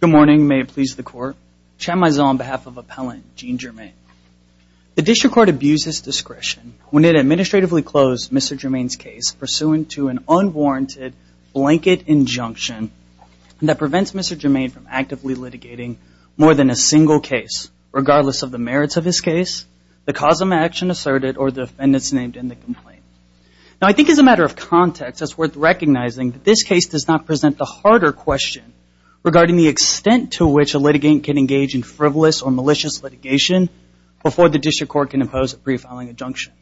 Good morning. May it please the court. Chad Mizell on behalf of Appellant Gene Germain. The district court abused its discretion when it administratively closed Mr. Germain's case pursuant to an unwarranted blanket injunction that prevents Mr. Germain from actively litigating more than a single case, regardless of the merits of his case, the cause of action asserted, or the defendants named in the complaint. Now, I think as a matter of context, it's worth recognizing that this case does not present the harder question regarding the extent to which a litigant can engage in frivolous or malicious litigation before the district court can impose a pre-filing injunction.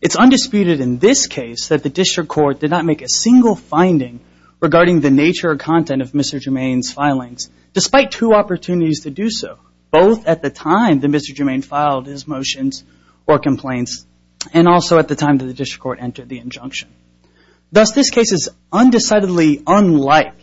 It's undisputed in this case that the district court did not make a single finding regarding the nature or content of Mr. Germain's filings, despite two opportunities to do so, both at the time that Mr. Germain filed his motions or complaints, and also at the time that the district court entered the injunction. Thus, this case is undecidedly unlike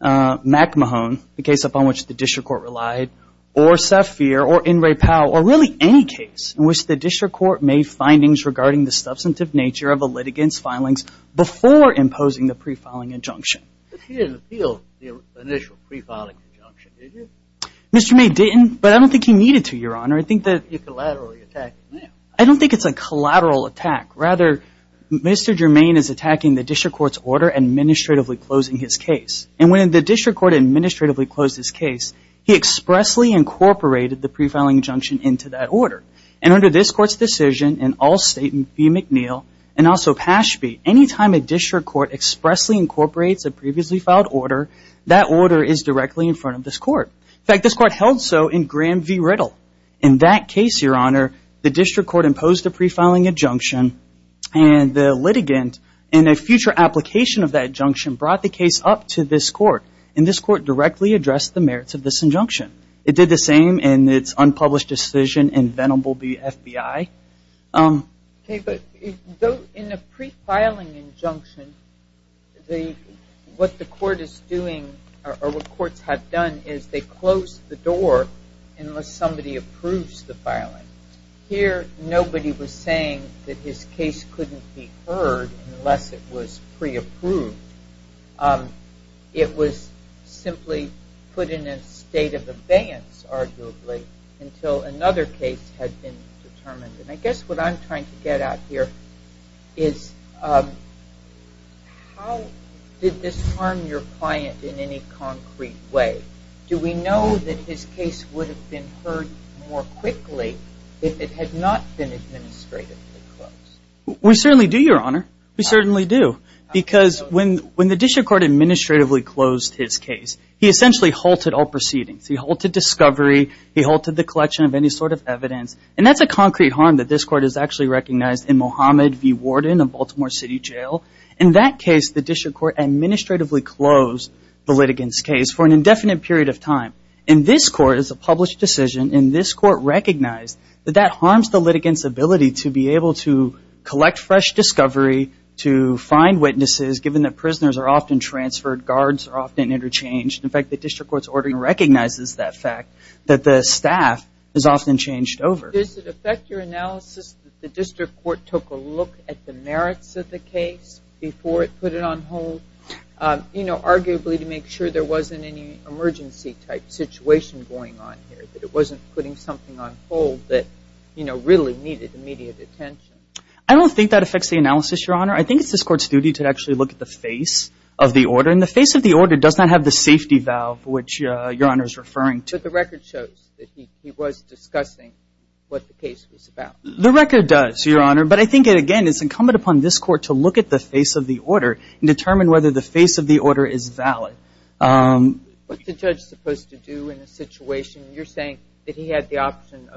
McMahon, the case upon which the district court relied, or Saffier, or Inouye Powell, or really any case in which the district court made findings regarding the substantive nature of a litigant's filings before imposing the pre-filing injunction. But you didn't appeal the initial pre-filing injunction, did you? Mr. Germain didn't, but I don't think he needed to, Your Honor. You're collaterally attacking him. I don't think it's a collateral attack. Rather, Mr. Germain is attacking the district court's order administratively closing his case. And when the district court administratively closed his case, he expressly incorporated the pre-filing injunction into that order. And under this court's decision, in all State v. McNeil, and also Pashby, any time a district court expressly incorporates a previously filed order, that order is directly in front of this court. In fact, this court held so in Graham v. Riddle. In that case, Your Honor, the district court imposed a pre-filing injunction, and the litigant, in a future application of that injunction, brought the case up to this court. And this court directly addressed the merits of this injunction. It did the same in its unpublished decision in Venable v. FBI. Okay, but in a pre-filing injunction, what the court is doing, or what courts have done, is they close the door unless somebody approves the filing. Here, nobody was saying that his case couldn't be heard unless it was pre-approved. It was simply put in a state of abeyance, arguably, until another case had been determined. And I guess what I'm trying to get at here is how did this harm your client in any concrete way? Do we know that his case would have been heard more quickly if it had not been administratively closed? We certainly do, Your Honor. We certainly do. Because when the district court administratively closed his case, he essentially halted all proceedings. He halted discovery. He halted the collection of any sort of evidence. And that's a concrete harm that this court has actually recognized in Mohammed v. Warden of Baltimore City Jail. In that case, the district court administratively closed the litigant's case for an indefinite period of time. In this court, it's a published decision. And this court recognized that that harms the litigant's ability to be able to collect fresh discovery, to find witnesses, given that prisoners are often transferred, guards are often interchanged. In fact, the district court's ordering recognizes that fact, that the staff is often changed over. Does it affect your analysis that the district court took a look at the merits of the case before it put it on hold, you know, arguably to make sure there wasn't any emergency-type situation going on here, that it wasn't putting something on hold that, you know, really needed immediate attention? I don't think that affects the analysis, Your Honor. I think it's this court's duty to actually look at the face of the order. And the face of the order does not have the safety valve, which Your Honor is referring to. But the record shows that he was discussing what the case was about. The record does, Your Honor. But I think, again, it's incumbent upon this court to look at the face of the order and determine whether the face of the order is valid. What's a judge supposed to do in a situation? You're saying that he had the option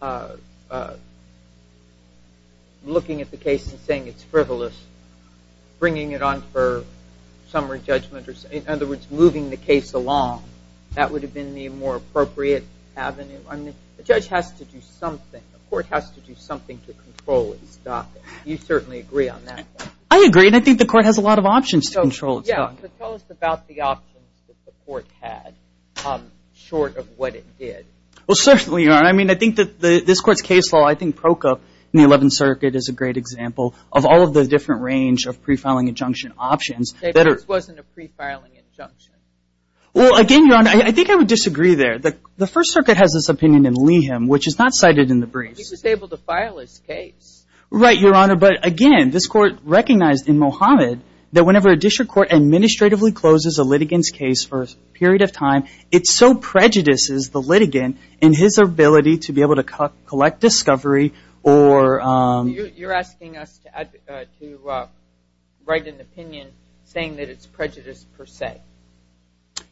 of looking at the case and saying it's frivolous, bringing it on for summary judgment, or in other words, moving the case along. That would have been the more appropriate avenue. I mean, the judge has to do something. The court has to do something to control and stop it. You certainly agree on that. I agree, and I think the court has a lot of options to control itself. Yeah, but tell us about the options that the court had short of what it did. Well, certainly, Your Honor. I mean, I think that this court's case law, in the Eleventh Circuit is a great example of all of the different range of pre-filing injunction options. This wasn't a pre-filing injunction. Well, again, Your Honor, I think I would disagree there. The First Circuit has this opinion in Leeham, which is not cited in the briefs. He was able to file his case. Right, Your Honor. But, again, this court recognized in Mohammed that whenever a district court administratively closes a litigant's case for a period of time, it so prejudices the litigant in his ability to be able to collect discovery or... You're asking us to write an opinion saying that it's prejudiced per se.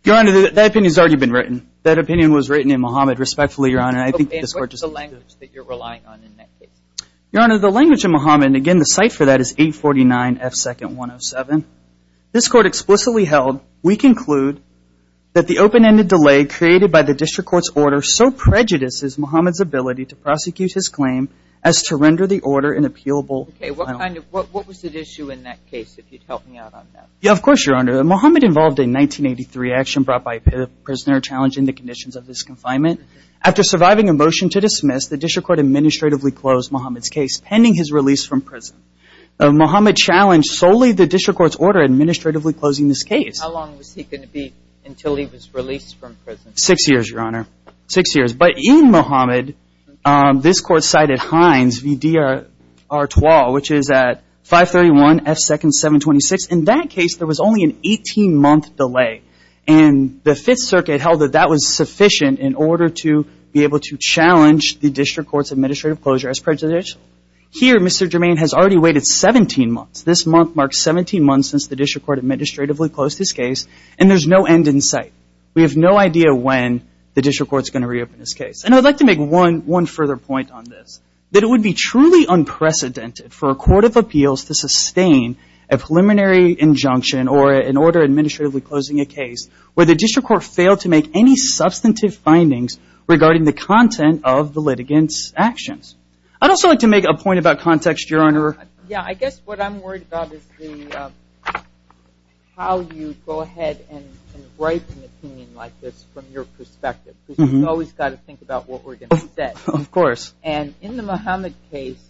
Your Honor, that opinion has already been written. That opinion was written in Mohammed, respectfully, Your Honor. And what's the language that you're relying on in that case? Your Honor, the language in Mohammed, and, again, the cite for that is 849 F. 2nd 107. This court explicitly held, we conclude, that the open-ended delay created by the district court's order so prejudices Mohammed's ability to prosecute his claim as to render the order an appealable... Okay, what was the issue in that case, if you'd help me out on that? Yeah, of course, Your Honor. Mohammed involved a 1983 action brought by a prisoner challenging the conditions of this confinement. After surviving a motion to dismiss, the district court administratively closed Mohammed's case pending his release from prison. Mohammed challenged solely the district court's order administratively closing this case. How long was he going to be until he was released from prison? Six years, Your Honor, six years. But in Mohammed, this court cited Hines v. D. Artois, which is at 531 F. 2nd 726. In that case, there was only an 18-month delay. And the Fifth Circuit held that that was sufficient in order to be able to challenge the district court's administrative closure as prejudicial. Here, Mr. Germain has already waited 17 months. This month marks 17 months since the district court administratively closed his case, and there's no end in sight. We have no idea when the district court's going to reopen his case. And I'd like to make one further point on this, that it would be truly unprecedented for a court of appeals to sustain a preliminary injunction or an order administratively closing a case where the district court failed to make any substantive findings regarding the content of the litigant's actions. I'd also like to make a point about context, Your Honor. Yeah, I guess what I'm worried about is how you go ahead and write an opinion like this from your perspective, because you've always got to think about what we're going to say. Of course. And in the Mohammed case,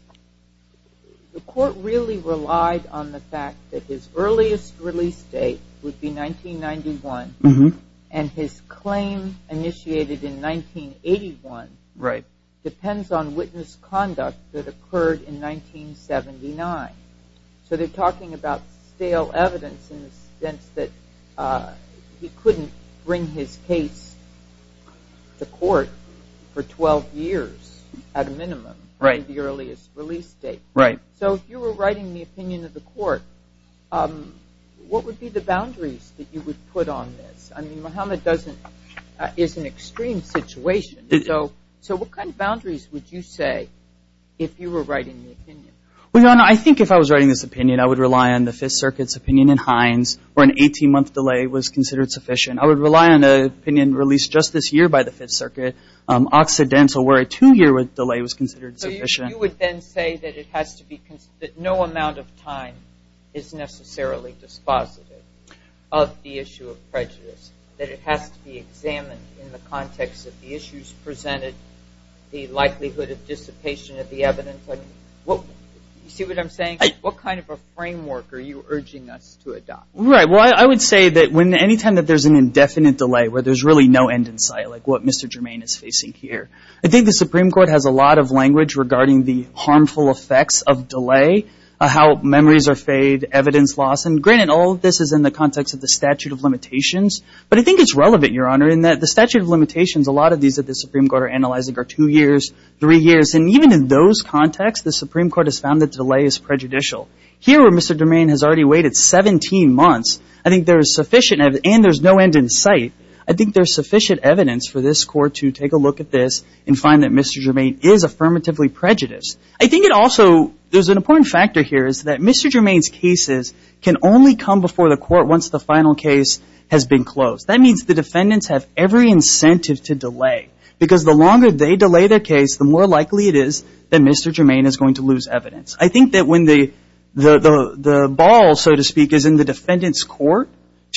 the court really relied on the fact that his earliest release date would be 1991, and his claim initiated in 1981 depends on witness conduct that occurred in 1979. So they're talking about stale evidence in the sense that he couldn't bring his case to court for 12 years at a minimum in the earliest release date. So if you were writing the opinion of the court, what would be the boundaries that you would put on this? I mean, Mohammed is an extreme situation. So what kind of boundaries would you say if you were writing the opinion? Well, Your Honor, I think if I was writing this opinion, I would rely on the Fifth Circuit's opinion in Hines where an 18-month delay was considered sufficient. I would rely on an opinion released just this year by the Fifth Circuit, Occidental, where a two-year delay was considered sufficient. You would then say that no amount of time is necessarily dispositive of the issue of prejudice, that it has to be examined in the context of the issues presented, the likelihood of dissipation of the evidence. You see what I'm saying? What kind of a framework are you urging us to adopt? Right. Well, I would say that any time that there's an indefinite delay where there's really no end in sight, like what Mr. Germain is facing here, I think the Supreme Court has a lot of language regarding the harmful effects of delay, how memories are fade, evidence loss. And granted, all of this is in the context of the statute of limitations, but I think it's relevant, Your Honor, in that the statute of limitations, a lot of these that the Supreme Court are analyzing are two years, three years. And even in those contexts, the Supreme Court has found that delay is prejudicial. Here, where Mr. Germain has already waited 17 months, I think there is sufficient evidence, and there's no end in sight, I think there's sufficient evidence for this Court to take a look at this and find that Mr. Germain is affirmatively prejudiced. I think it also, there's an important factor here, is that Mr. Germain's cases can only come before the court once the final case has been closed. That means the defendants have every incentive to delay, because the longer they delay their case, the more likely it is that Mr. Germain is going to lose evidence. I think that when the ball, so to speak, is in the defendant's court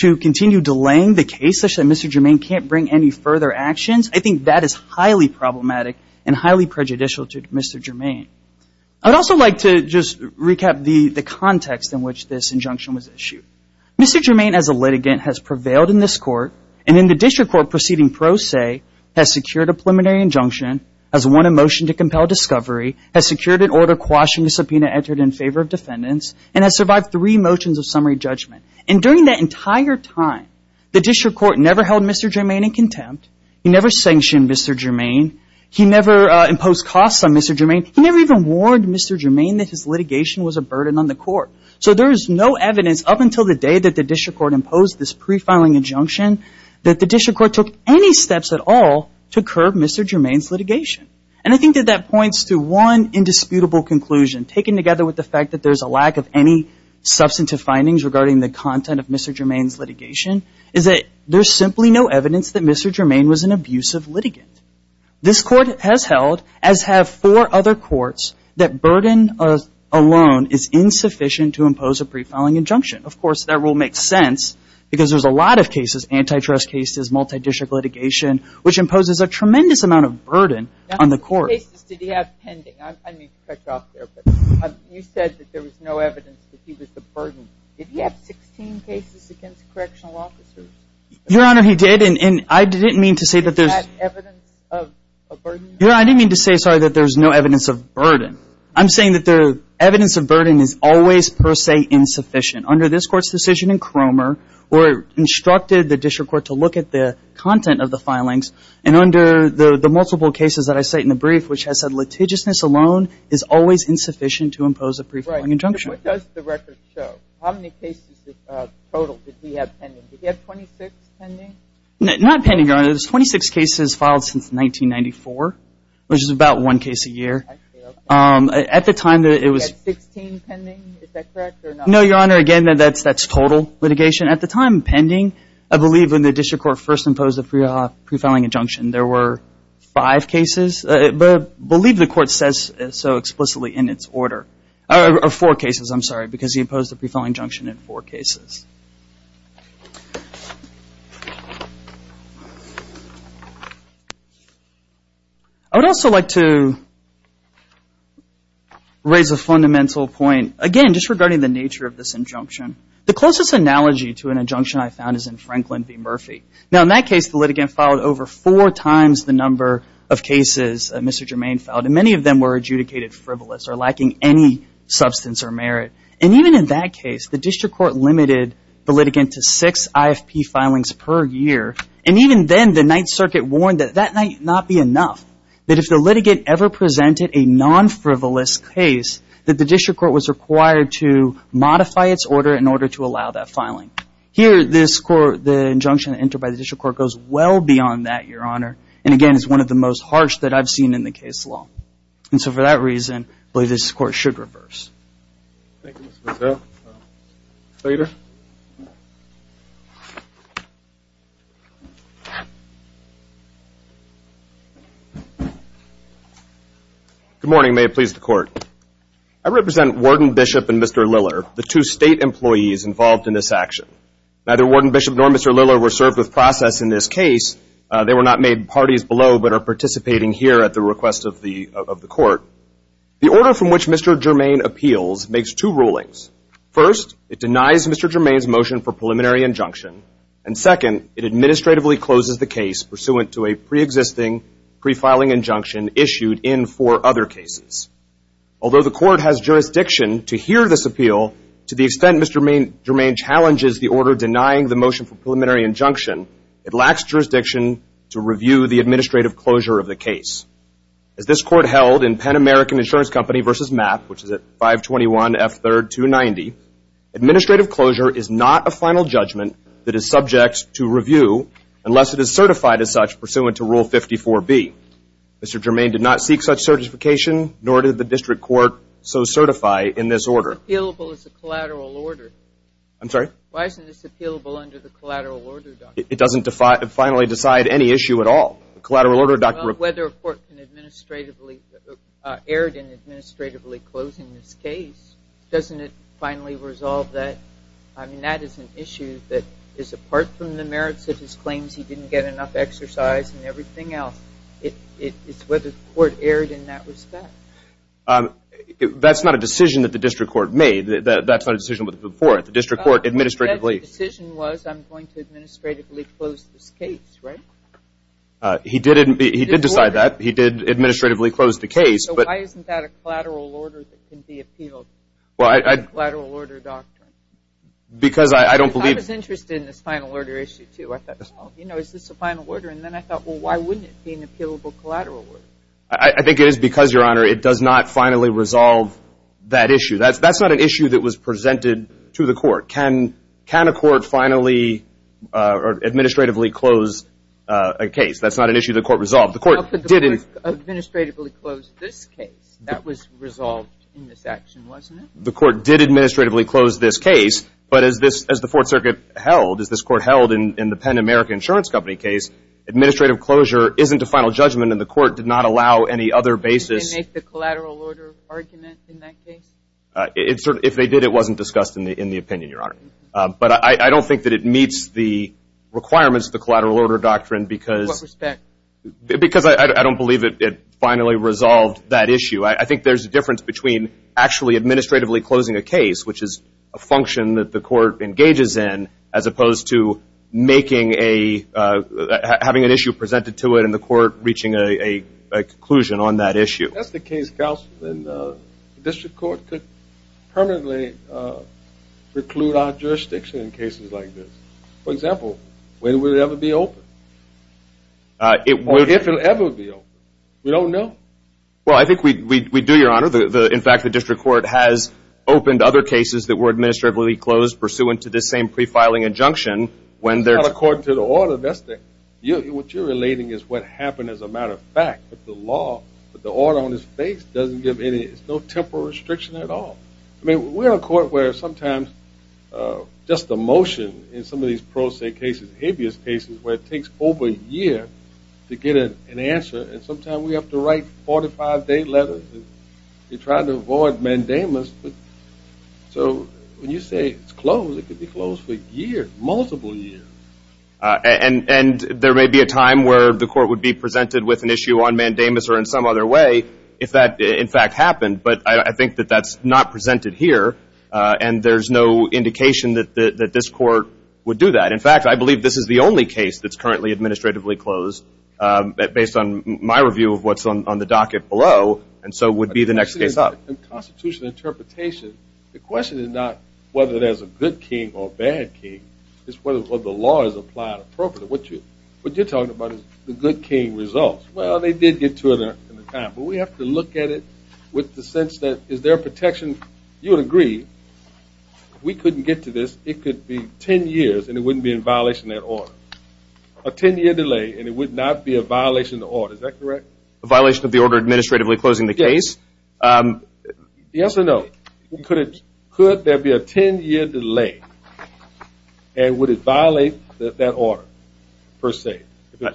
to continue delaying the case such that Mr. Germain can't bring any further actions, I think that is highly problematic and highly prejudicial to Mr. Germain. I'd also like to just recap the context in which this injunction was issued. Mr. Germain, as a litigant, has prevailed in this court, and in the district court proceeding pro se, has secured a preliminary injunction, has won a motion to compel discovery, has secured an order quashing the subpoena entered in favor of defendants, and has survived three motions of summary judgment. And during that entire time, the district court never held Mr. Germain in contempt, he never sanctioned Mr. Germain, he never imposed costs on Mr. Germain, he never even warned Mr. Germain that his litigation was a burden on the court. So there is no evidence up until the day that the district court imposed this pre-filing injunction that the district court took any steps at all to curb Mr. Germain's litigation. And I think that that points to one indisputable conclusion, taken together with the fact that there's a lack of any substantive findings regarding the content of Mr. Germain's litigation, is that there's simply no evidence that Mr. Germain was an abusive litigant. This court has held, as have four other courts, that burden alone is insufficient to impose a pre-filing injunction. Of course, that rule makes sense, because there's a lot of cases, antitrust cases, multi-district litigation, which imposes a tremendous amount of burden on the court. Now, how many cases did he have pending? I need to cut you off there. You said that there was no evidence that he was a burden. Did he have 16 cases against correctional officers? Your Honor, he did, and I didn't mean to say that there's... Is that evidence of a burden? Your Honor, I didn't mean to say, sorry, that there's no evidence of burden. I'm saying that the evidence of burden is always, per se, insufficient. Under this Court's decision in Cromer, where it instructed the district court to look at the content of the filings, and under the multiple cases that I cite in the brief, which has said litigiousness alone is always insufficient to impose a pre-filing injunction. What does the record show? How many cases total did he have pending? Did he have 26 pending? Not pending, Your Honor. There's 26 cases filed since 1994, which is about one case a year. I see. At the time that it was... He had 16 pending. Is that correct or not? No, Your Honor. Again, that's total litigation. At the time pending, I believe when the district court first imposed a pre-filing injunction, there were five cases. I believe the Court says so explicitly in its order. Or four cases, I'm sorry, because he imposed a pre-filing injunction in four cases. I would also like to raise a fundamental point, again, just regarding the nature of this injunction. The closest analogy to an injunction I found is in Franklin v. Murphy. Now, in that case, the litigant filed over four times the number of cases that Mr. Germain filed, and many of them were adjudicated frivolous or lacking any substance or merit. And even in that case, the district court limited the litigant to six IFP filings per year. And even then, the Ninth Circuit warned that that might not be enough, that if the litigant ever presented a non-frivolous case, that the district court was required to modify its order in order to allow that filing. Here, the injunction entered by the district court goes well beyond that, Your Honor, and again, is one of the most harsh that I've seen in the case law. And so for that reason, I believe this Court should reverse. Good morning. May it please the Court. I represent Warden Bishop and Mr. Lillard, the two state employees involved in this action. Neither Warden Bishop nor Mr. Lillard were served with process in this case. They were not made parties below but are participating here at the request of the Court. The order from which Mr. Germain appeals makes two rulings. First, it denies Mr. Germain's motion for preliminary injunction, and second, it administratively closes the case pursuant to a preexisting prefiling injunction issued in four other cases. Although the Court has jurisdiction to hear this appeal to the extent Mr. Germain challenges the order denying the motion for preliminary injunction, it lacks jurisdiction to review the administrative closure of the case. As this Court held in Penn American Insurance Company v. MAP, which is at 521 F. 3rd, 290, administrative closure is not a final judgment that is subject to review unless it is certified as such pursuant to Rule 54B. Mr. Germain did not seek such certification, nor did the District Court so certify in this order. Appealable as a collateral order. I'm sorry? Why isn't this appealable under the collateral order, Doctor? It doesn't finally decide any issue at all. The collateral order, Doctor. Well, whether a court can administratively, erred in administratively closing this case, doesn't it finally resolve that? I mean, that is an issue that is apart from the merits of his claims he didn't get enough exercise and everything else. It's whether the court erred in that respect. That's not a decision that the District Court made. That's not a decision that was made before. The District Court administratively. The decision was, I'm going to administratively close this case, right? He did decide that. He did administratively close the case. So why isn't that a collateral order that can be appealed under the collateral order, Doctor? Because I don't believe. Because I was interested in this final order issue, too. I thought, well, you know, is this a final order? And then I thought, well, why wouldn't it be an appealable collateral order? I think it is because, Your Honor, it does not finally resolve that issue. That's not an issue that was presented to the court. Can a court finally administratively close a case? That's not an issue the court resolved. The court did administratively close this case. That was resolved in this action, wasn't it? The court did administratively close this case. But as the Fourth Circuit held, as this court held in the Penn America Insurance Company case, administrative closure isn't a final judgment, and the court did not allow any other basis. Didn't they make the collateral order argument in that case? If they did, it wasn't discussed in the opinion, Your Honor. But I don't think that it meets the requirements of the collateral order doctrine because. What respect? Because I don't believe it finally resolved that issue. I think there's a difference between actually administratively closing a case, which is a function that the court engages in, as opposed to having an issue presented to it and the court reaching a conclusion on that issue. If that's the case, counsel, then the district court could permanently preclude our jurisdiction in cases like this. For example, when would it ever be open? Or if it would ever be open. We don't know. Well, I think we do, Your Honor. In fact, the district court has opened other cases that were administratively closed pursuant to this same pre-filing injunction. That's not according to the order. What you're relating is what happened as a matter of fact. But the law, with the order on its face, doesn't give any, there's no temporal restriction at all. I mean, we're a court where sometimes just a motion in some of these pro se cases, habeas cases, where it takes over a year to get an answer, and sometimes we have to write 45-day letters to try to avoid mandamus. So when you say it's closed, it could be closed for a year, multiple years. And there may be a time where the court would be presented with an issue on mandamus or in some other way if that, in fact, happened. But I think that that's not presented here, and there's no indication that this court would do that. In fact, I believe this is the only case that's currently administratively closed based on my review of what's on the docket below, and so would be the next case up. In constitutional interpretation, the question is not whether there's a good king or a bad king. It's whether the law is applied appropriately. What you're talking about is the good king results. Well, they did get to it in the time, but we have to look at it with the sense that is there a protection? You would agree if we couldn't get to this, it could be ten years, and it wouldn't be in violation of that order. A ten-year delay, and it would not be a violation of the order. Is that correct? A violation of the order administratively closing the case? Yes. Yes or no? Could there be a ten-year delay, and would it violate that order per se?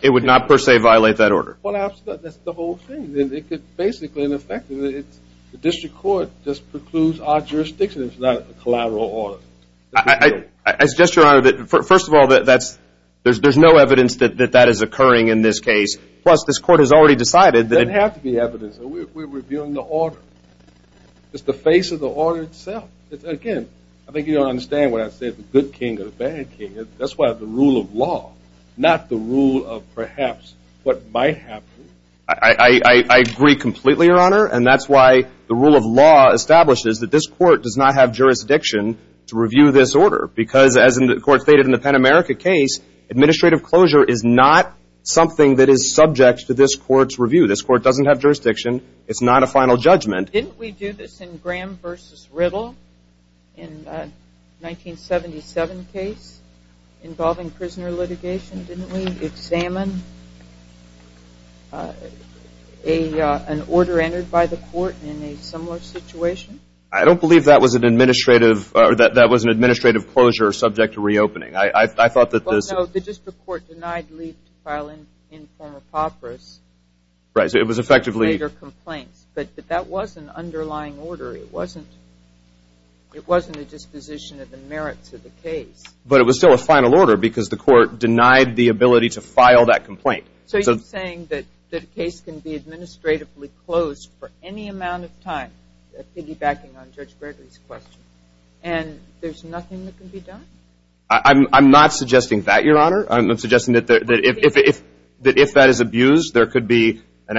It would not per se violate that order. Well, that's the whole thing. Basically, in effect, the district court just precludes our jurisdiction. It's not a collateral order. I suggest, Your Honor, that first of all, there's no evidence that that is occurring in this case. Plus, this court has already decided that it has to be evidence. We're reviewing the order. It's the face of the order itself. Again, I think you don't understand what I said, the good king or the bad king. That's why the rule of law, not the rule of perhaps what might happen. I agree completely, Your Honor, and that's why the rule of law establishes that this court does not have jurisdiction to review this order because, as the court stated in the Penn America case, administrative closure is not something that is subject to this court's review. This court doesn't have jurisdiction. It's not a final judgment. Didn't we do this in Graham v. Riddle in the 1977 case involving prisoner litigation? Didn't we examine an order entered by the court in a similar situation? I don't believe that was an administrative closure subject to reopening. I thought that this – Well, no. The district court denied leave to file an informer papyrus. Right. So it was effectively – Later complaints. But that was an underlying order. It wasn't a disposition of the merits of the case. But it was still a final order because the court denied the ability to file that complaint. So you're saying that the case can be administratively closed for any amount of time, piggybacking on Judge Gregory's question, and there's nothing that can be done? I'm not suggesting that, Your Honor. I'm suggesting that if that is abused, there could be a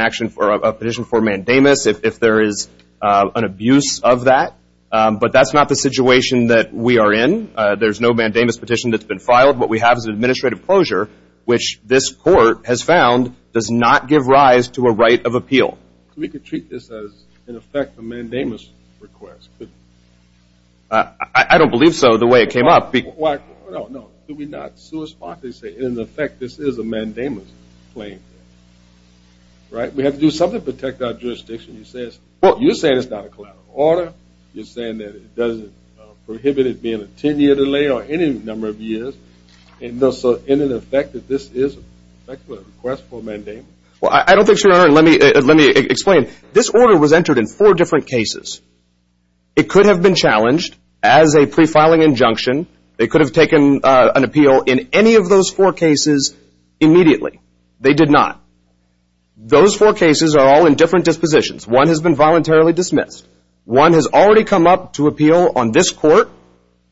petition for mandamus if there is an abuse of that. But that's not the situation that we are in. There's no mandamus petition that's been filed. What we have is an administrative closure, which this court has found does not give rise to a right of appeal. We could treat this as, in effect, a mandamus request, couldn't we? I don't believe so. The way it came up – No, no. Do we not – In effect, this is a mandamus claim. Right? We have to do something to protect our jurisdiction. You're saying it's not a collateral order. You're saying that it doesn't prohibit it being a 10-year delay or any number of years. So, in effect, this is a request for a mandamus? Well, I don't think so, Your Honor. Let me explain. This order was entered in four different cases. It could have been challenged as a pre-filing injunction. They could have taken an appeal in any of those four cases immediately. They did not. Those four cases are all in different dispositions. One has been voluntarily dismissed. One has already come up to appeal on this court.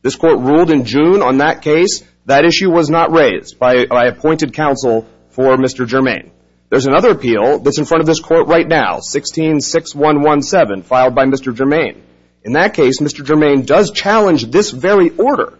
This court ruled in June on that case. That issue was not raised by appointed counsel for Mr. Germain. There's another appeal that's in front of this court right now, 16-6117, filed by Mr. Germain. In that case, Mr. Germain does challenge this very order.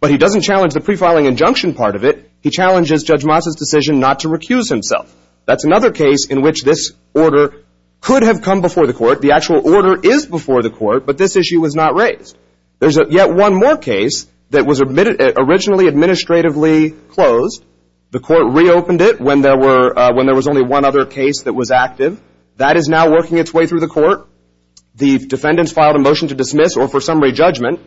But he doesn't challenge the pre-filing injunction part of it. He challenges Judge Moss's decision not to recuse himself. That's another case in which this order could have come before the court. The actual order is before the court, but this issue was not raised. There's yet one more case that was originally administratively closed. The court reopened it when there was only one other case that was active. That is now working its way through the court. The defendants filed a motion to dismiss or for summary judgment.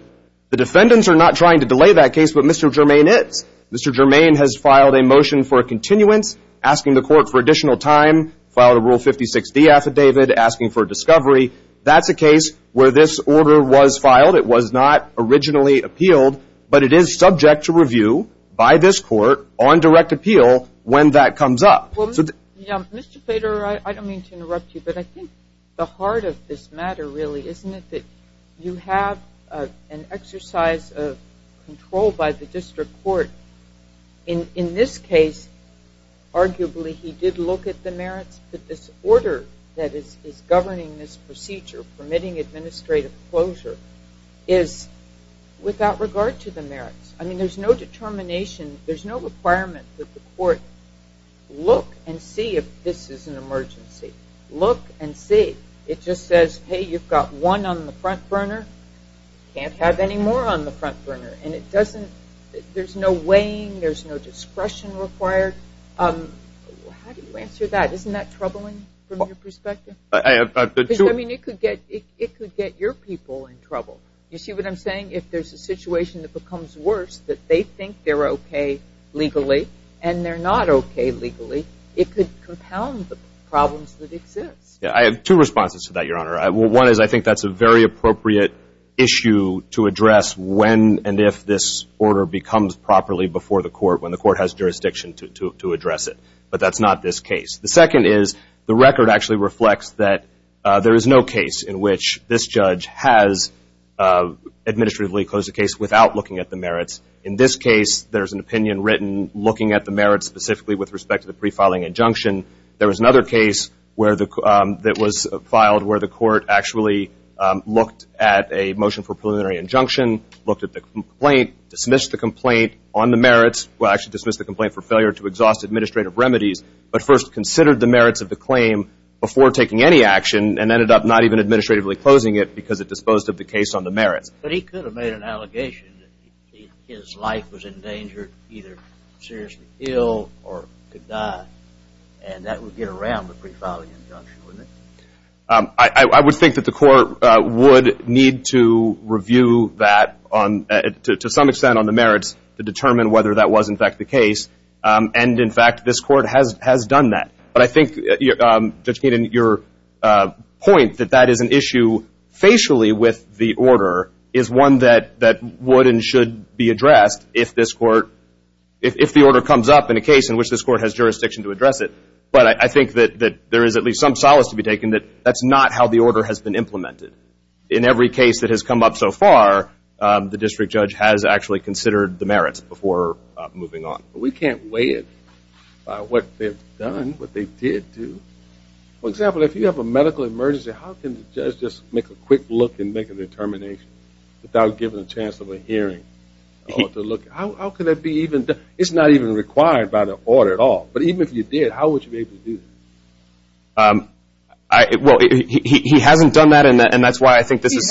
The defendants are not trying to delay that case, but Mr. Germain is. Mr. Germain has filed a motion for a continuance, asking the court for additional time, filed a Rule 56-D affidavit, asking for a discovery. That's a case where this order was filed. It was not originally appealed, but it is subject to review by this court on direct appeal when that comes up. Mr. Plater, I don't mean to interrupt you, but I think the heart of this matter, really, isn't it that you have an exercise of control by the district court. In this case, arguably, he did look at the merits, but this order that is governing this procedure, permitting administrative closure, is without regard to the merits. There's no determination, there's no requirement that the court look and see if this is an emergency. Look and see. It just says, hey, you've got one on the front burner. You can't have any more on the front burner. There's no weighing, there's no discretion required. How do you answer that? Isn't that troubling from your perspective? It could get your people in trouble. You see what I'm saying? If there's a situation that becomes worse, that they think they're okay legally, and they're not okay legally, it could compound the problems that exist. I have two responses to that, Your Honor. One is I think that's a very appropriate issue to address when and if this order becomes properly before the court, when the court has jurisdiction to address it. But that's not this case. The second is the record actually reflects that there is no case in which this judge has administratively closed a case without looking at the merits. In this case, there's an opinion written looking at the merits, specifically with respect to the prefiling injunction. There was another case that was filed where the court actually looked at a motion for preliminary injunction, looked at the complaint, dismissed the complaint on the merits. Well, actually dismissed the complaint for failure to exhaust administrative remedies, but first considered the merits of the claim before taking any action and ended up not even administratively closing it because it disposed of the case on the merits. But he could have made an allegation that his life was in danger, either seriously ill or could die, and that would get around the prefiling injunction, wouldn't it? I would think that the court would need to review that to some extent on the merits to determine whether that was in fact the case. And, in fact, this court has done that. But I think, Judge Keenan, your point that that is an issue facially with the order is one that would and should be addressed if the order comes up in a case in which this court has jurisdiction to address it. But I think that there is at least some solace to be taken that that's not how the order has been implemented. In every case that has come up so far, the district judge has actually considered the merits before moving on. But we can't weigh it by what they've done, what they did do. For example, if you have a medical emergency, how can the judge just make a quick look and make a determination without giving a chance of a hearing? How can that be even done? It's not even required by the order at all. But even if you did, how would you be able to do that? Well, he hasn't done that, and that's why I think this is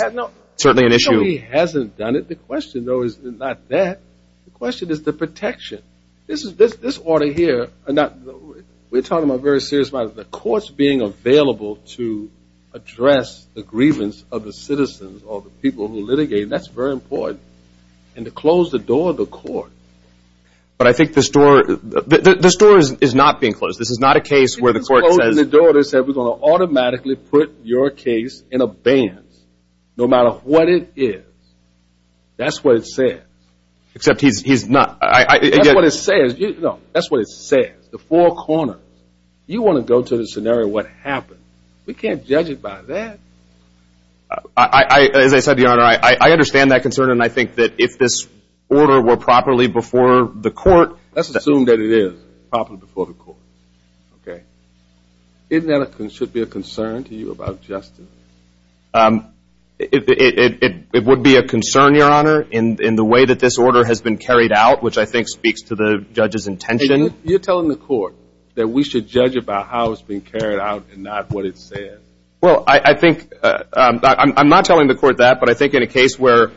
certainly an issue. He hasn't done it. The question, though, is not that. The question is the protection. This order here, we're talking about very serious matters. The court's being available to address the grievance of the citizens or the people who litigate, and that's very important. And to close the door of the court. But I think the store is not being closed. This is not a case where the court says we're going to automatically put your case in a band, no matter what it is. That's what it says. Except he's not. That's what it says. The four corners. You want to go to the scenario of what happened. We can't judge it by that. As I said, Your Honor, I understand that concern, and I think that if this order were properly before the court. Let's assume that it is properly before the court. Okay. Isn't that should be a concern to you about justice? It would be a concern, Your Honor, in the way that this order has been carried out, which I think speaks to the judge's intention. You're telling the court that we should judge it by how it's been carried out and not what it says. Well, I think – I'm not telling the court that, but I think in a case where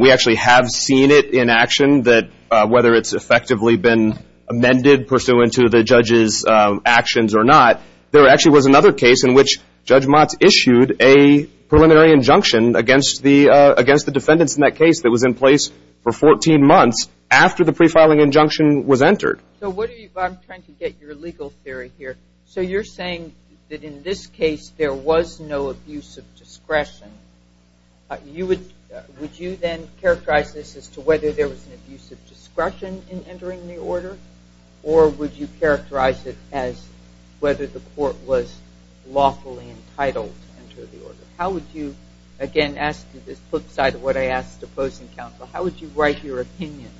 we actually have seen it in action, whether it's effectively been amended pursuant to the judge's actions or not, there actually was another case in which Judge Motz issued a preliminary injunction against the defendants in that case that was in place for 14 months after the prefiling injunction was entered. So what are you – I'm trying to get your legal theory here. So you're saying that in this case there was no abuse of discretion. Would you then characterize this as to whether there was an abuse of discretion in entering the order, or would you characterize it as whether the court was lawfully entitled to enter the order? How would you – again, as to the flip side of what I asked opposing counsel, how would you write your opinion?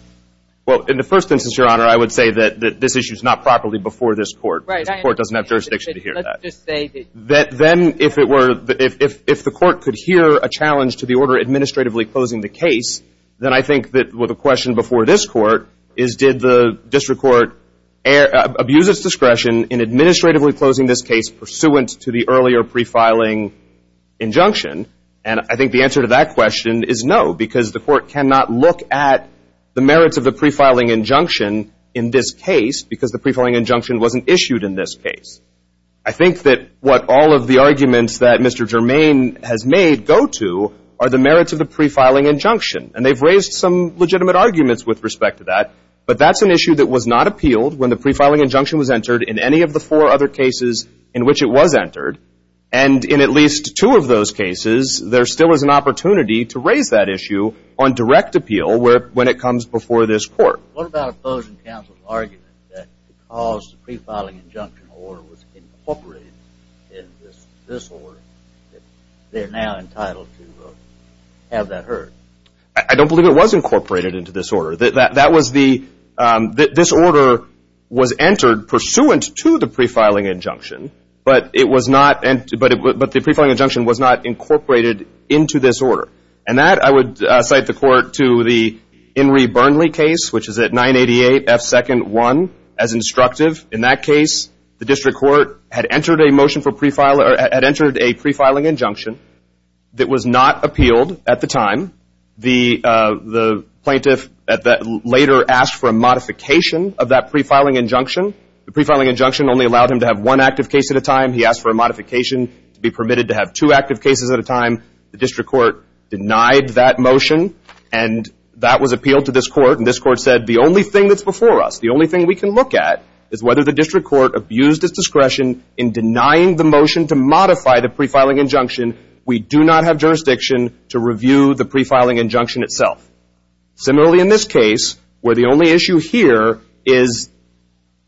Well, in the first instance, Your Honor, I would say that this issue is not properly before this court. The court doesn't have jurisdiction to hear that. Then if it were – if the court could hear a challenge to the order administratively closing the case, then I think that the question before this court is did the district court abuse its discretion in administratively closing this case pursuant to the earlier prefiling injunction. And I think the answer to that question is no, because the court cannot look at the merits of the prefiling injunction in this case because the prefiling injunction wasn't issued in this case. I think that what all of the arguments that Mr. Germain has made go to are the merits of the prefiling injunction. And they've raised some legitimate arguments with respect to that, but that's an issue that was not appealed when the prefiling injunction was entered in any of the four other cases in which it was entered. And in at least two of those cases, there still is an opportunity to raise that issue on direct appeal when it comes before this court. What about opposing counsel's argument that because the prefiling injunction order was incorporated in this order, that they're now entitled to have that heard? I don't believe it was incorporated into this order. That was the – this order was entered pursuant to the prefiling injunction, but it was not – but the prefiling injunction was not incorporated into this order. And that, I would cite the court to the Inree Burnley case, which is at 988F2-1 as instructive. In that case, the district court had entered a motion for prefiling – or had entered a prefiling injunction that was not appealed at the time. The plaintiff later asked for a modification of that prefiling injunction. The prefiling injunction only allowed him to have one active case at a time. He asked for a modification to be permitted to have two active cases at a time. The district court denied that motion, and that was appealed to this court. And this court said the only thing that's before us, the only thing we can look at, is whether the district court abused its discretion in denying the motion to modify the prefiling injunction. We do not have jurisdiction to review the prefiling injunction itself. Similarly, in this case, where the only issue here is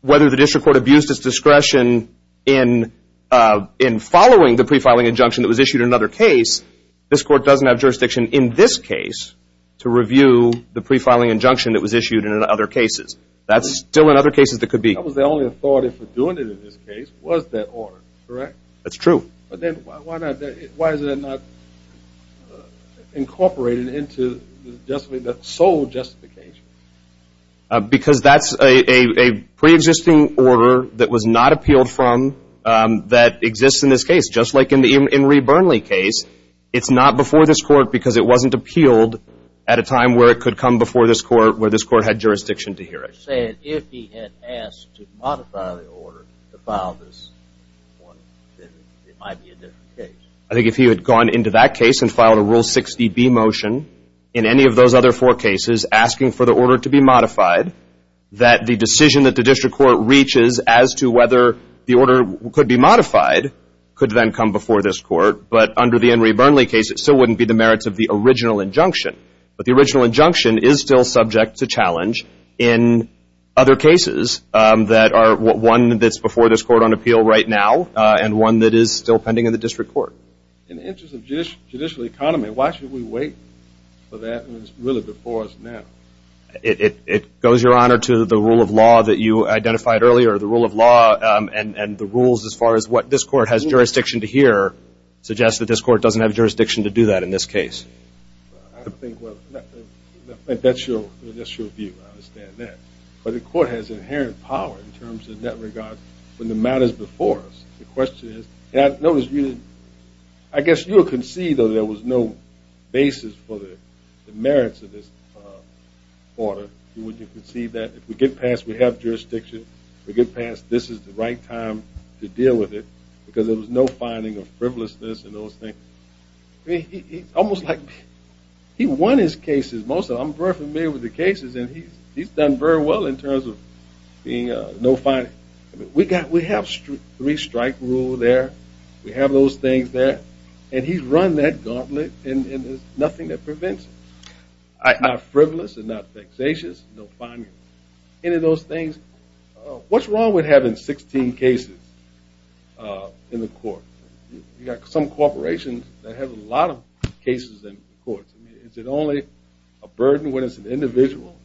whether the district court abused its discretion in following the prefiling injunction that was issued in another case, this court doesn't have jurisdiction in this case to review the prefiling injunction that was issued in other cases. That's still in other cases that could be. That was the only authority for doing it in this case was that order, correct? That's true. But then why is that not incorporated into the sole justification? Because that's a preexisting order that was not appealed from that exists in this case. Just like in the Enri Burnley case, it's not before this court because it wasn't appealed at a time where it could come before this court, where this court had jurisdiction to hear it. If he had asked to modify the order to file this one, then it might be a different case. I think if he had gone into that case and filed a Rule 60B motion, in any of those other four cases, asking for the order to be modified, that the decision that the district court reaches as to whether the order could be modified could then come before this court. But under the Enri Burnley case, it still wouldn't be the merits of the original injunction. But the original injunction is still subject to challenge in other cases that are one that's before this court on appeal right now and one that is still pending in the district court. So in the interest of judicial economy, why should we wait for that when it's really before us now? It goes, Your Honor, to the rule of law that you identified earlier. The rule of law and the rules as far as what this court has jurisdiction to hear suggests that this court doesn't have jurisdiction to do that in this case. I think that's your view. I understand that. But the court has inherent power in terms of that regard when the matter is before us. The question is, I guess you would concede that there was no basis for the merits of this order. You would concede that if we get past we have jurisdiction, we get past this is the right time to deal with it, because there was no finding of frivolousness in those things. He won his cases. I'm very familiar with the cases and he's done very well in terms of no finding. We have three strike rule there. We have those things there. And he's run that gauntlet and there's nothing that prevents it. Our frivolous is not vexatious, no finding. Any of those things, what's wrong with having 16 cases in the court? You've got some corporations that have a lot of cases in court. Is it only a burden when it's an individual?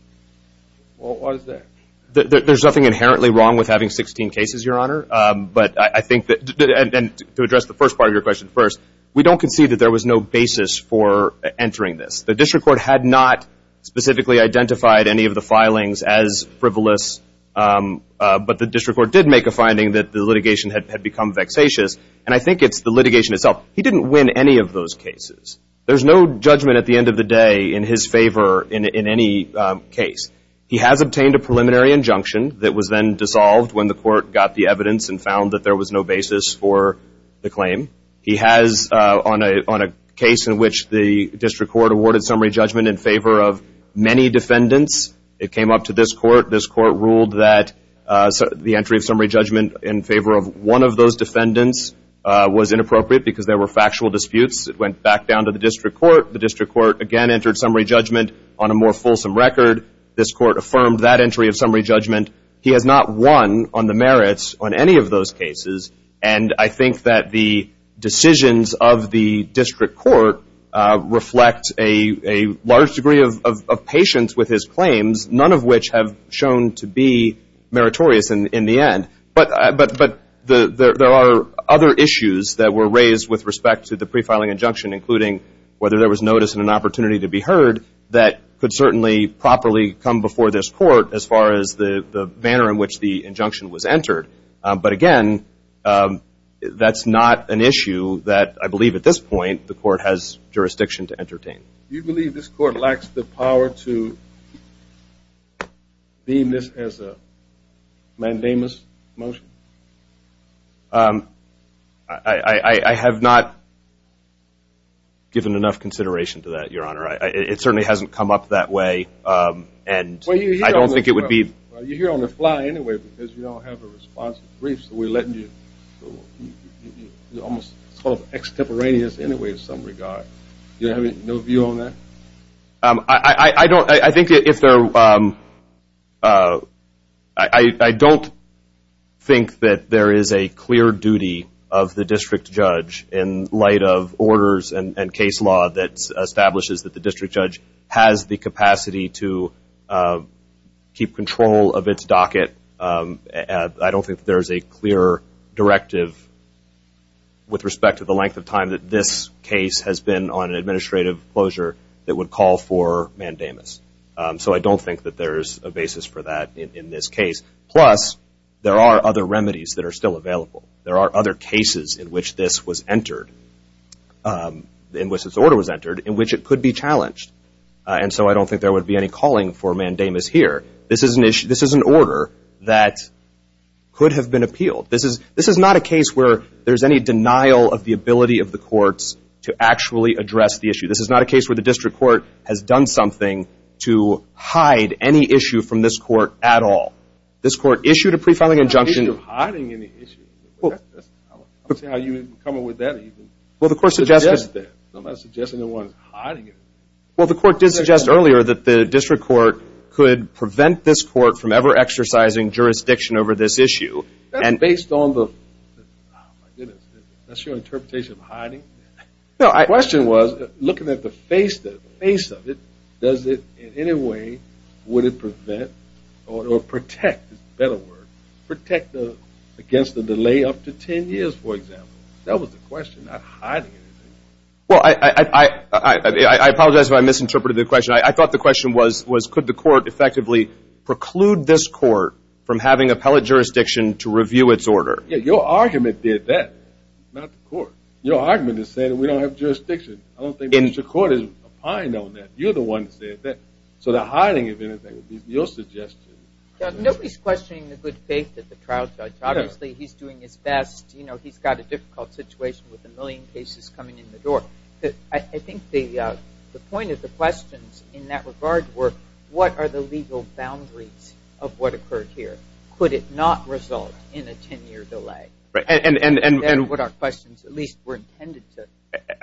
There's nothing inherently wrong with having 16 cases, Your Honor. But I think that to address the first part of your question first, we don't concede that there was no basis for entering this. The district court had not specifically identified any of the filings as frivolous, but the district court did make a finding that the litigation had become vexatious. And I think it's the litigation itself. He didn't win any of those cases. There's no judgment at the end of the day in his favor in any case. He has obtained a preliminary injunction that was then dissolved when the court got the evidence and found that there was no basis for the claim. He has on a case in which the district court awarded summary judgment in favor of many defendants. It came up to this court. This court ruled that the entry of summary judgment in favor of one of those defendants was inappropriate because there were factual disputes. It went back down to the district court. The district court again entered summary judgment on a more fulsome record. This court affirmed that entry of summary judgment. He has not won on the merits on any of those cases. And I think that the decisions of the district court reflect a large degree of patience with his claims, none of which have shown to be meritorious in the end. But there are other issues that were raised with respect to the pre-filing injunction, including whether there was notice and an opportunity to be heard, that could certainly properly come before this court as far as the manner in which the injunction was entered. But again, that's not an issue that I believe at this point the court has jurisdiction to entertain. Do you believe this court lacks the power to deem this as a mandamus motion? I have not given enough consideration to that, Your Honor. It certainly hasn't come up that way, and I don't think it would be – Well, you're here on the fly anyway because you don't have a response to the briefs that we're letting you. You're almost sort of extemporaneous anyway in some regard. Do you have no view on that? I don't – I think if there – I don't think that there is a clear duty of the district judge in light of orders and case law that establishes that the district judge has the capacity to keep control of its docket. I don't think there is a clear directive with respect to the length of time that this case has been on an administrative closure that would call for mandamus. So I don't think that there is a basis for that in this case. Plus, there are other remedies that are still available. There are other cases in which this was entered, in which this order was entered, in which it could be challenged. And so I don't think there would be any calling for mandamus here. This is an issue – this is an order that could have been appealed. This is – this is not a case where there's any denial of the ability of the courts to actually address the issue. This is not a case where the district court has done something to hide any issue from this court at all. This court issued a pre-filing injunction – I'm not saying you're hiding any issue. I'm saying how you didn't come up with that even. Well, the court suggested – I'm not suggesting no one is hiding it. Well, the court did suggest earlier that the district court could prevent this court from ever exercising jurisdiction over this issue. That's based on the – oh, my goodness. That's your interpretation of hiding? No, I – The question was, looking at the face of it, does it in any way – would it prevent or protect – it's a better word – protect against the delay up to 10 years, for example. That was the question, not hiding anything. Well, I apologize if I misinterpreted the question. I thought the question was, could the court effectively preclude this court from having appellate jurisdiction to review its order? Yeah, your argument did that, not the court. Your argument is saying we don't have jurisdiction. I don't think the district court is opined on that. You're the one that said that. So the hiding, if anything, would be your suggestion. Nobody is questioning the good faith of the trial judge. Obviously, he's doing his best. He's got a difficult situation with a million cases coming in the door. I think the point of the questions in that regard were, what are the legal boundaries of what occurred here? Could it not result in a 10-year delay? And what our questions at least were intended to.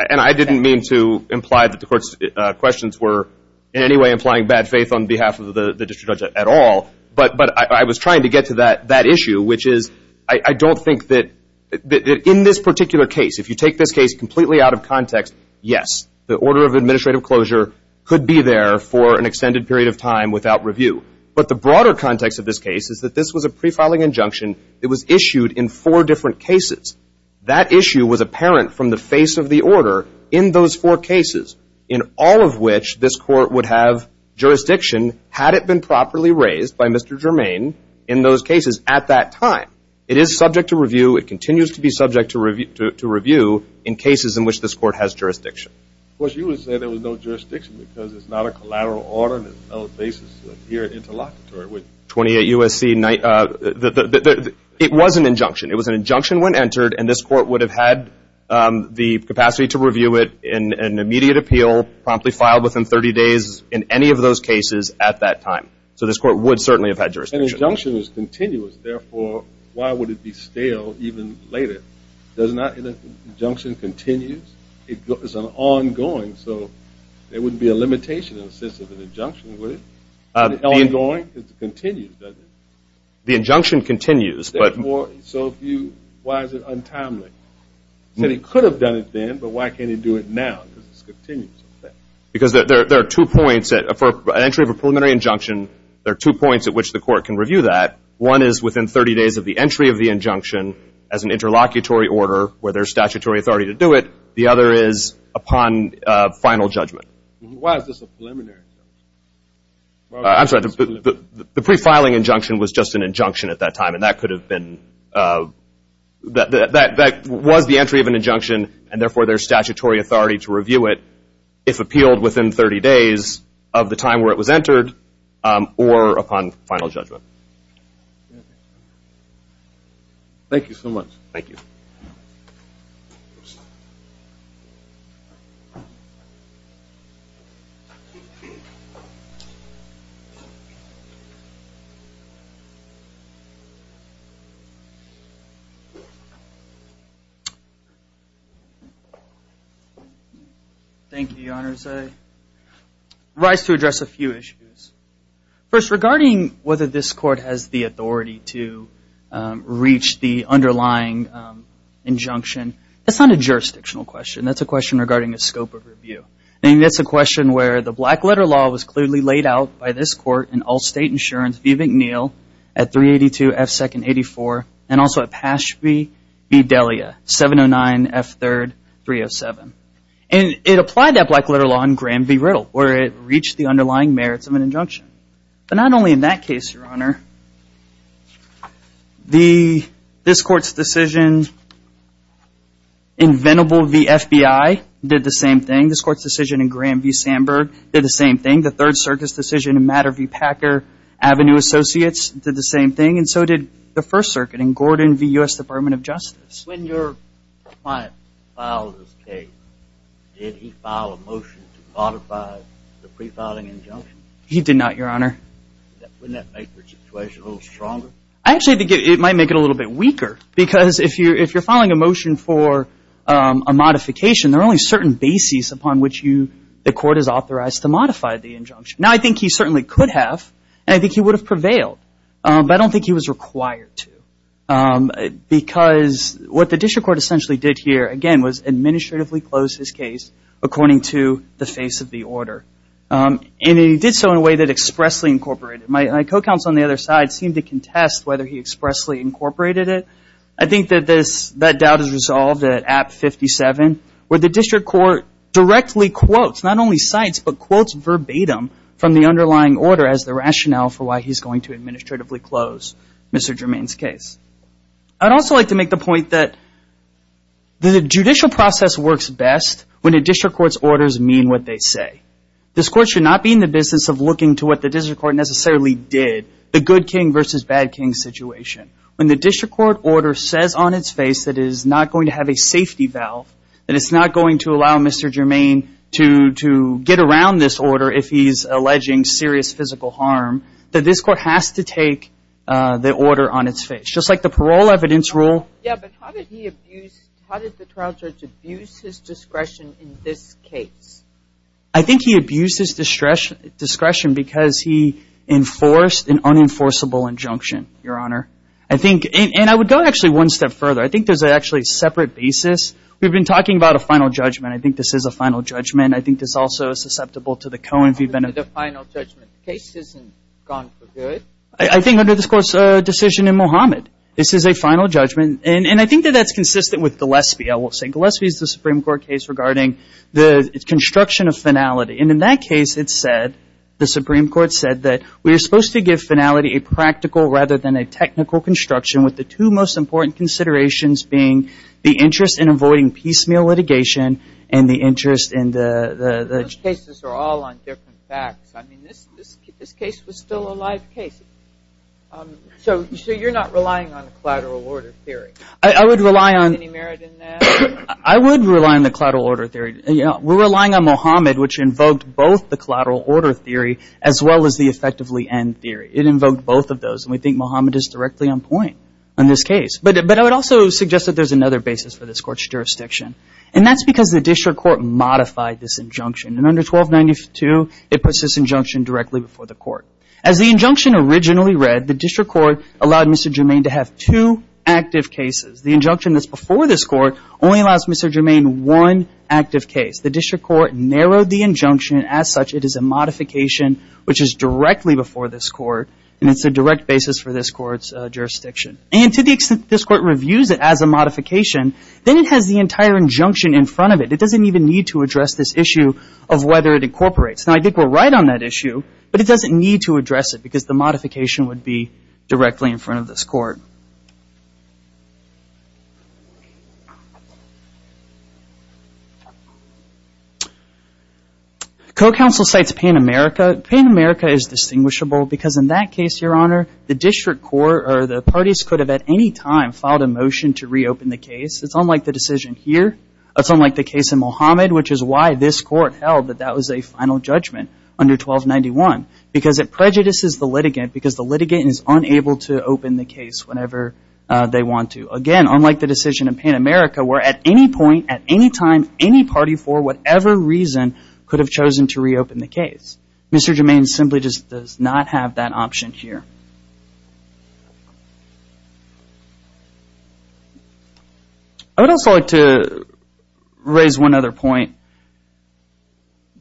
And I didn't mean to imply that the court's questions were in any way implying bad faith on behalf of the district judge at all. But I was trying to get to that issue, which is I don't think that in this particular case, if you take this case completely out of context, yes, the order of administrative closure could be there for an extended period of time without review. But the broader context of this case is that this was a prefiling injunction. It was issued in four different cases. That issue was apparent from the face of the order in those four cases, in all of which this court would have jurisdiction had it been properly raised by Mr. Germain in those cases at that time. It is subject to review. It continues to be subject to review in cases in which this court has jurisdiction. Of course, you would say there was no jurisdiction because it's not a collateral order. There's no basis to appear interlocutory with 28 U.S.C. It was an injunction. It was an injunction when entered, and this court would have had the capacity to review it in an immediate appeal, promptly filed within 30 days in any of those cases at that time. So this court would certainly have had jurisdiction. An injunction is continuous. Therefore, why would it be stale even later? Doesn't that injunction continue? It's an ongoing, so there wouldn't be a limitation in the sense of an injunction, would it? Is it ongoing? It continues, doesn't it? The injunction continues. So why is it untimely? It could have done it then, but why can't it do it now because it continues? Because there are two points. For an entry of a preliminary injunction, there are two points at which the court can review that. One is within 30 days of the entry of the injunction as an interlocutory order where there's statutory authority to do it. The other is upon final judgment. Why is this a preliminary injunction? I'm sorry. The pre-filing injunction was just an injunction at that time, and that could have been the entry of an injunction, and therefore there's statutory authority to review it if appealed within 30 days of the time where it was entered or upon final judgment. Thank you so much. Thank you. Thank you. Thank you, Your Honors. I rise to address a few issues. First, regarding whether this court has the authority to reach the underlying injunction, that's not a jurisdictional question. That's a question regarding the scope of review. I think that's a question where the black letter law was clearly laid out by this court in all state insurance, V. McNeill, at 382 F. 2nd 84, and also at Pashby v. Delia, 709 F. 3rd 307. And it applied that black letter law in Graham v. Riddle, where it reached the underlying merits of an injunction. But not only in that case, Your Honor, this court's decision, inventable v. FBI, did the same thing. This court's decision in Graham v. Sandberg did the same thing. The Third Circuit's decision in Matter v. Packer, Avenue Associates, did the same thing. And so did the First Circuit in Gordon v. U.S. Department of Justice. When your client filed his case, did he file a motion to modify the prefiling injunction? He did not, Your Honor. Wouldn't that make the situation a little stronger? I actually think it might make it a little bit weaker because if you're filing a motion for a modification, there are only certain bases upon which the court is authorized to modify the injunction. Now, I think he certainly could have, and I think he would have prevailed. But I don't think he was required to because what the district court essentially did here, again, was administratively close his case according to the face of the order. And he did so in a way that expressly incorporated it. My co-counsel on the other side seemed to contest whether he expressly incorporated it. I think that that doubt is resolved at App 57 where the district court directly quotes, not only cites, but quotes verbatim from the underlying order as the rationale for why he's going to administratively close Mr. Germain's case. I'd also like to make the point that the judicial process works best when a district court's orders mean what they say. This court should not be in the business of looking to what the district court necessarily did, the good king versus bad king situation. When the district court order says on its face that it is not going to have a safety valve, that it's not going to allow Mr. Germain to get around this order if he's alleging serious physical harm, that this court has to take the order on its face. Just like the parole evidence rule. Yeah, but how did he abuse, how did the trial judge abuse his discretion in this case? I think he abused his discretion because he enforced an unenforceable injunction, Your Honor. I think, and I would go actually one step further. I think there's actually a separate basis. We've been talking about a final judgment. I think this is a final judgment. I think it's also susceptible to the Cohen v. Benedict. The final judgment case isn't gone for good. I think under this court's decision in Mohammed, this is a final judgment. And I think that that's consistent with Gillespie, I will say. The construction of finality. And in that case, it said, the Supreme Court said, that we are supposed to give finality a practical rather than a technical construction with the two most important considerations being the interest in avoiding piecemeal litigation and the interest in the... Those cases are all on different facts. I mean, this case was still a live case. So you're not relying on a collateral order theory? I would rely on... Is there any merit in that? I would rely on the collateral order theory. We're relying on Mohammed, which invoked both the collateral order theory as well as the effectively end theory. It invoked both of those. And we think Mohammed is directly on point in this case. But I would also suggest that there's another basis for this court's jurisdiction. And that's because the district court modified this injunction. And under 1292, it puts this injunction directly before the court. As the injunction originally read, the district court allowed Mr. Germain to have two active cases. The injunction that's before this court only allows Mr. Germain one active case. The district court narrowed the injunction. As such, it is a modification which is directly before this court, and it's a direct basis for this court's jurisdiction. And to the extent this court reviews it as a modification, then it has the entire injunction in front of it. It doesn't even need to address this issue of whether it incorporates. Now, I think we're right on that issue, but it doesn't need to address it because the modification would be directly in front of this court. Co-counsel cites Pan America. Pan America is distinguishable because in that case, Your Honor, the district court or the parties could have at any time filed a motion to reopen the case. It's unlike the decision here. It's unlike the case in Mohammed, which is why this court held that that was a final judgment under 1291. Because it prejudices the litigant because the litigant is unable to open the case whenever they want to. Again, unlike the decision in Pan America where at any point, at any time, any party for whatever reason could have chosen to reopen the case. Mr. Germain simply does not have that option here. I would also like to raise one other point.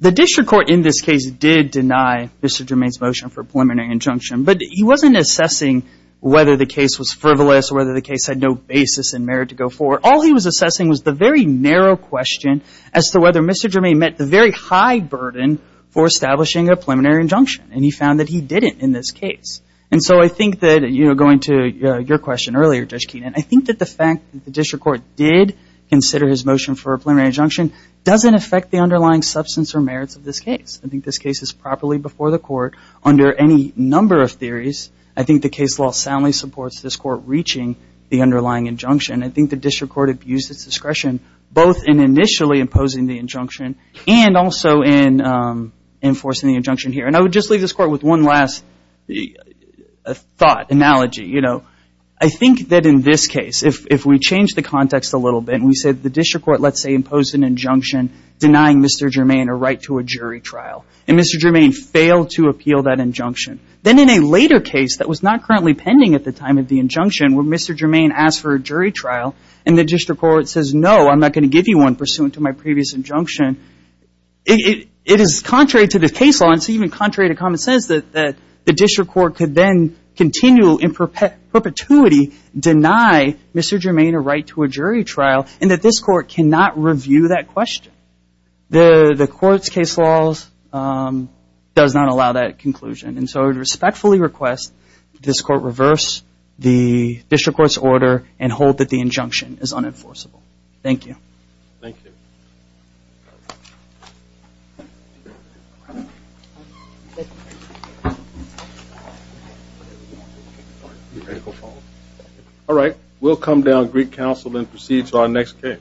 The district court in this case did deny Mr. Germain's motion for a preliminary injunction, but he wasn't assessing whether the case was frivolous or whether the case had no basis in merit to go forward. All he was assessing was the very narrow question as to whether Mr. Germain met the very high burden for establishing a preliminary injunction. And he found that he didn't in this case. And so I think that, you know, going to your question earlier, Judge Keenan, I think that the fact that the district court did consider his motion for a preliminary injunction doesn't affect the underlying substance or merits of this case. I think this case is properly before the court under any number of theories. I think the case law soundly supports this court reaching the underlying injunction. I think the district court abused its discretion both in initially imposing the injunction and also in enforcing the injunction here. And I would just leave this court with one last thought, analogy. You know, I think that in this case, if we change the context a little bit and we said the district court, let's say, imposed an injunction denying Mr. Germain a right to a jury trial and Mr. Germain failed to appeal that injunction, then in a later case that was not currently pending at the time of the injunction where Mr. Germain asked for a jury trial and the district court says, no, I'm not going to give you one pursuant to my previous injunction, it is contrary to the case law and it's even contrary to common sense that the district court could then continue in perpetuity deny Mr. Germain a right to a jury trial and that this court cannot review that question. The court's case law does not allow that conclusion. And so I would respectfully request that this court reverse the district court's order and hold that the injunction is unenforceable. Thank you. Thank you. All right. We'll come down to Greek Council and proceed to our next case.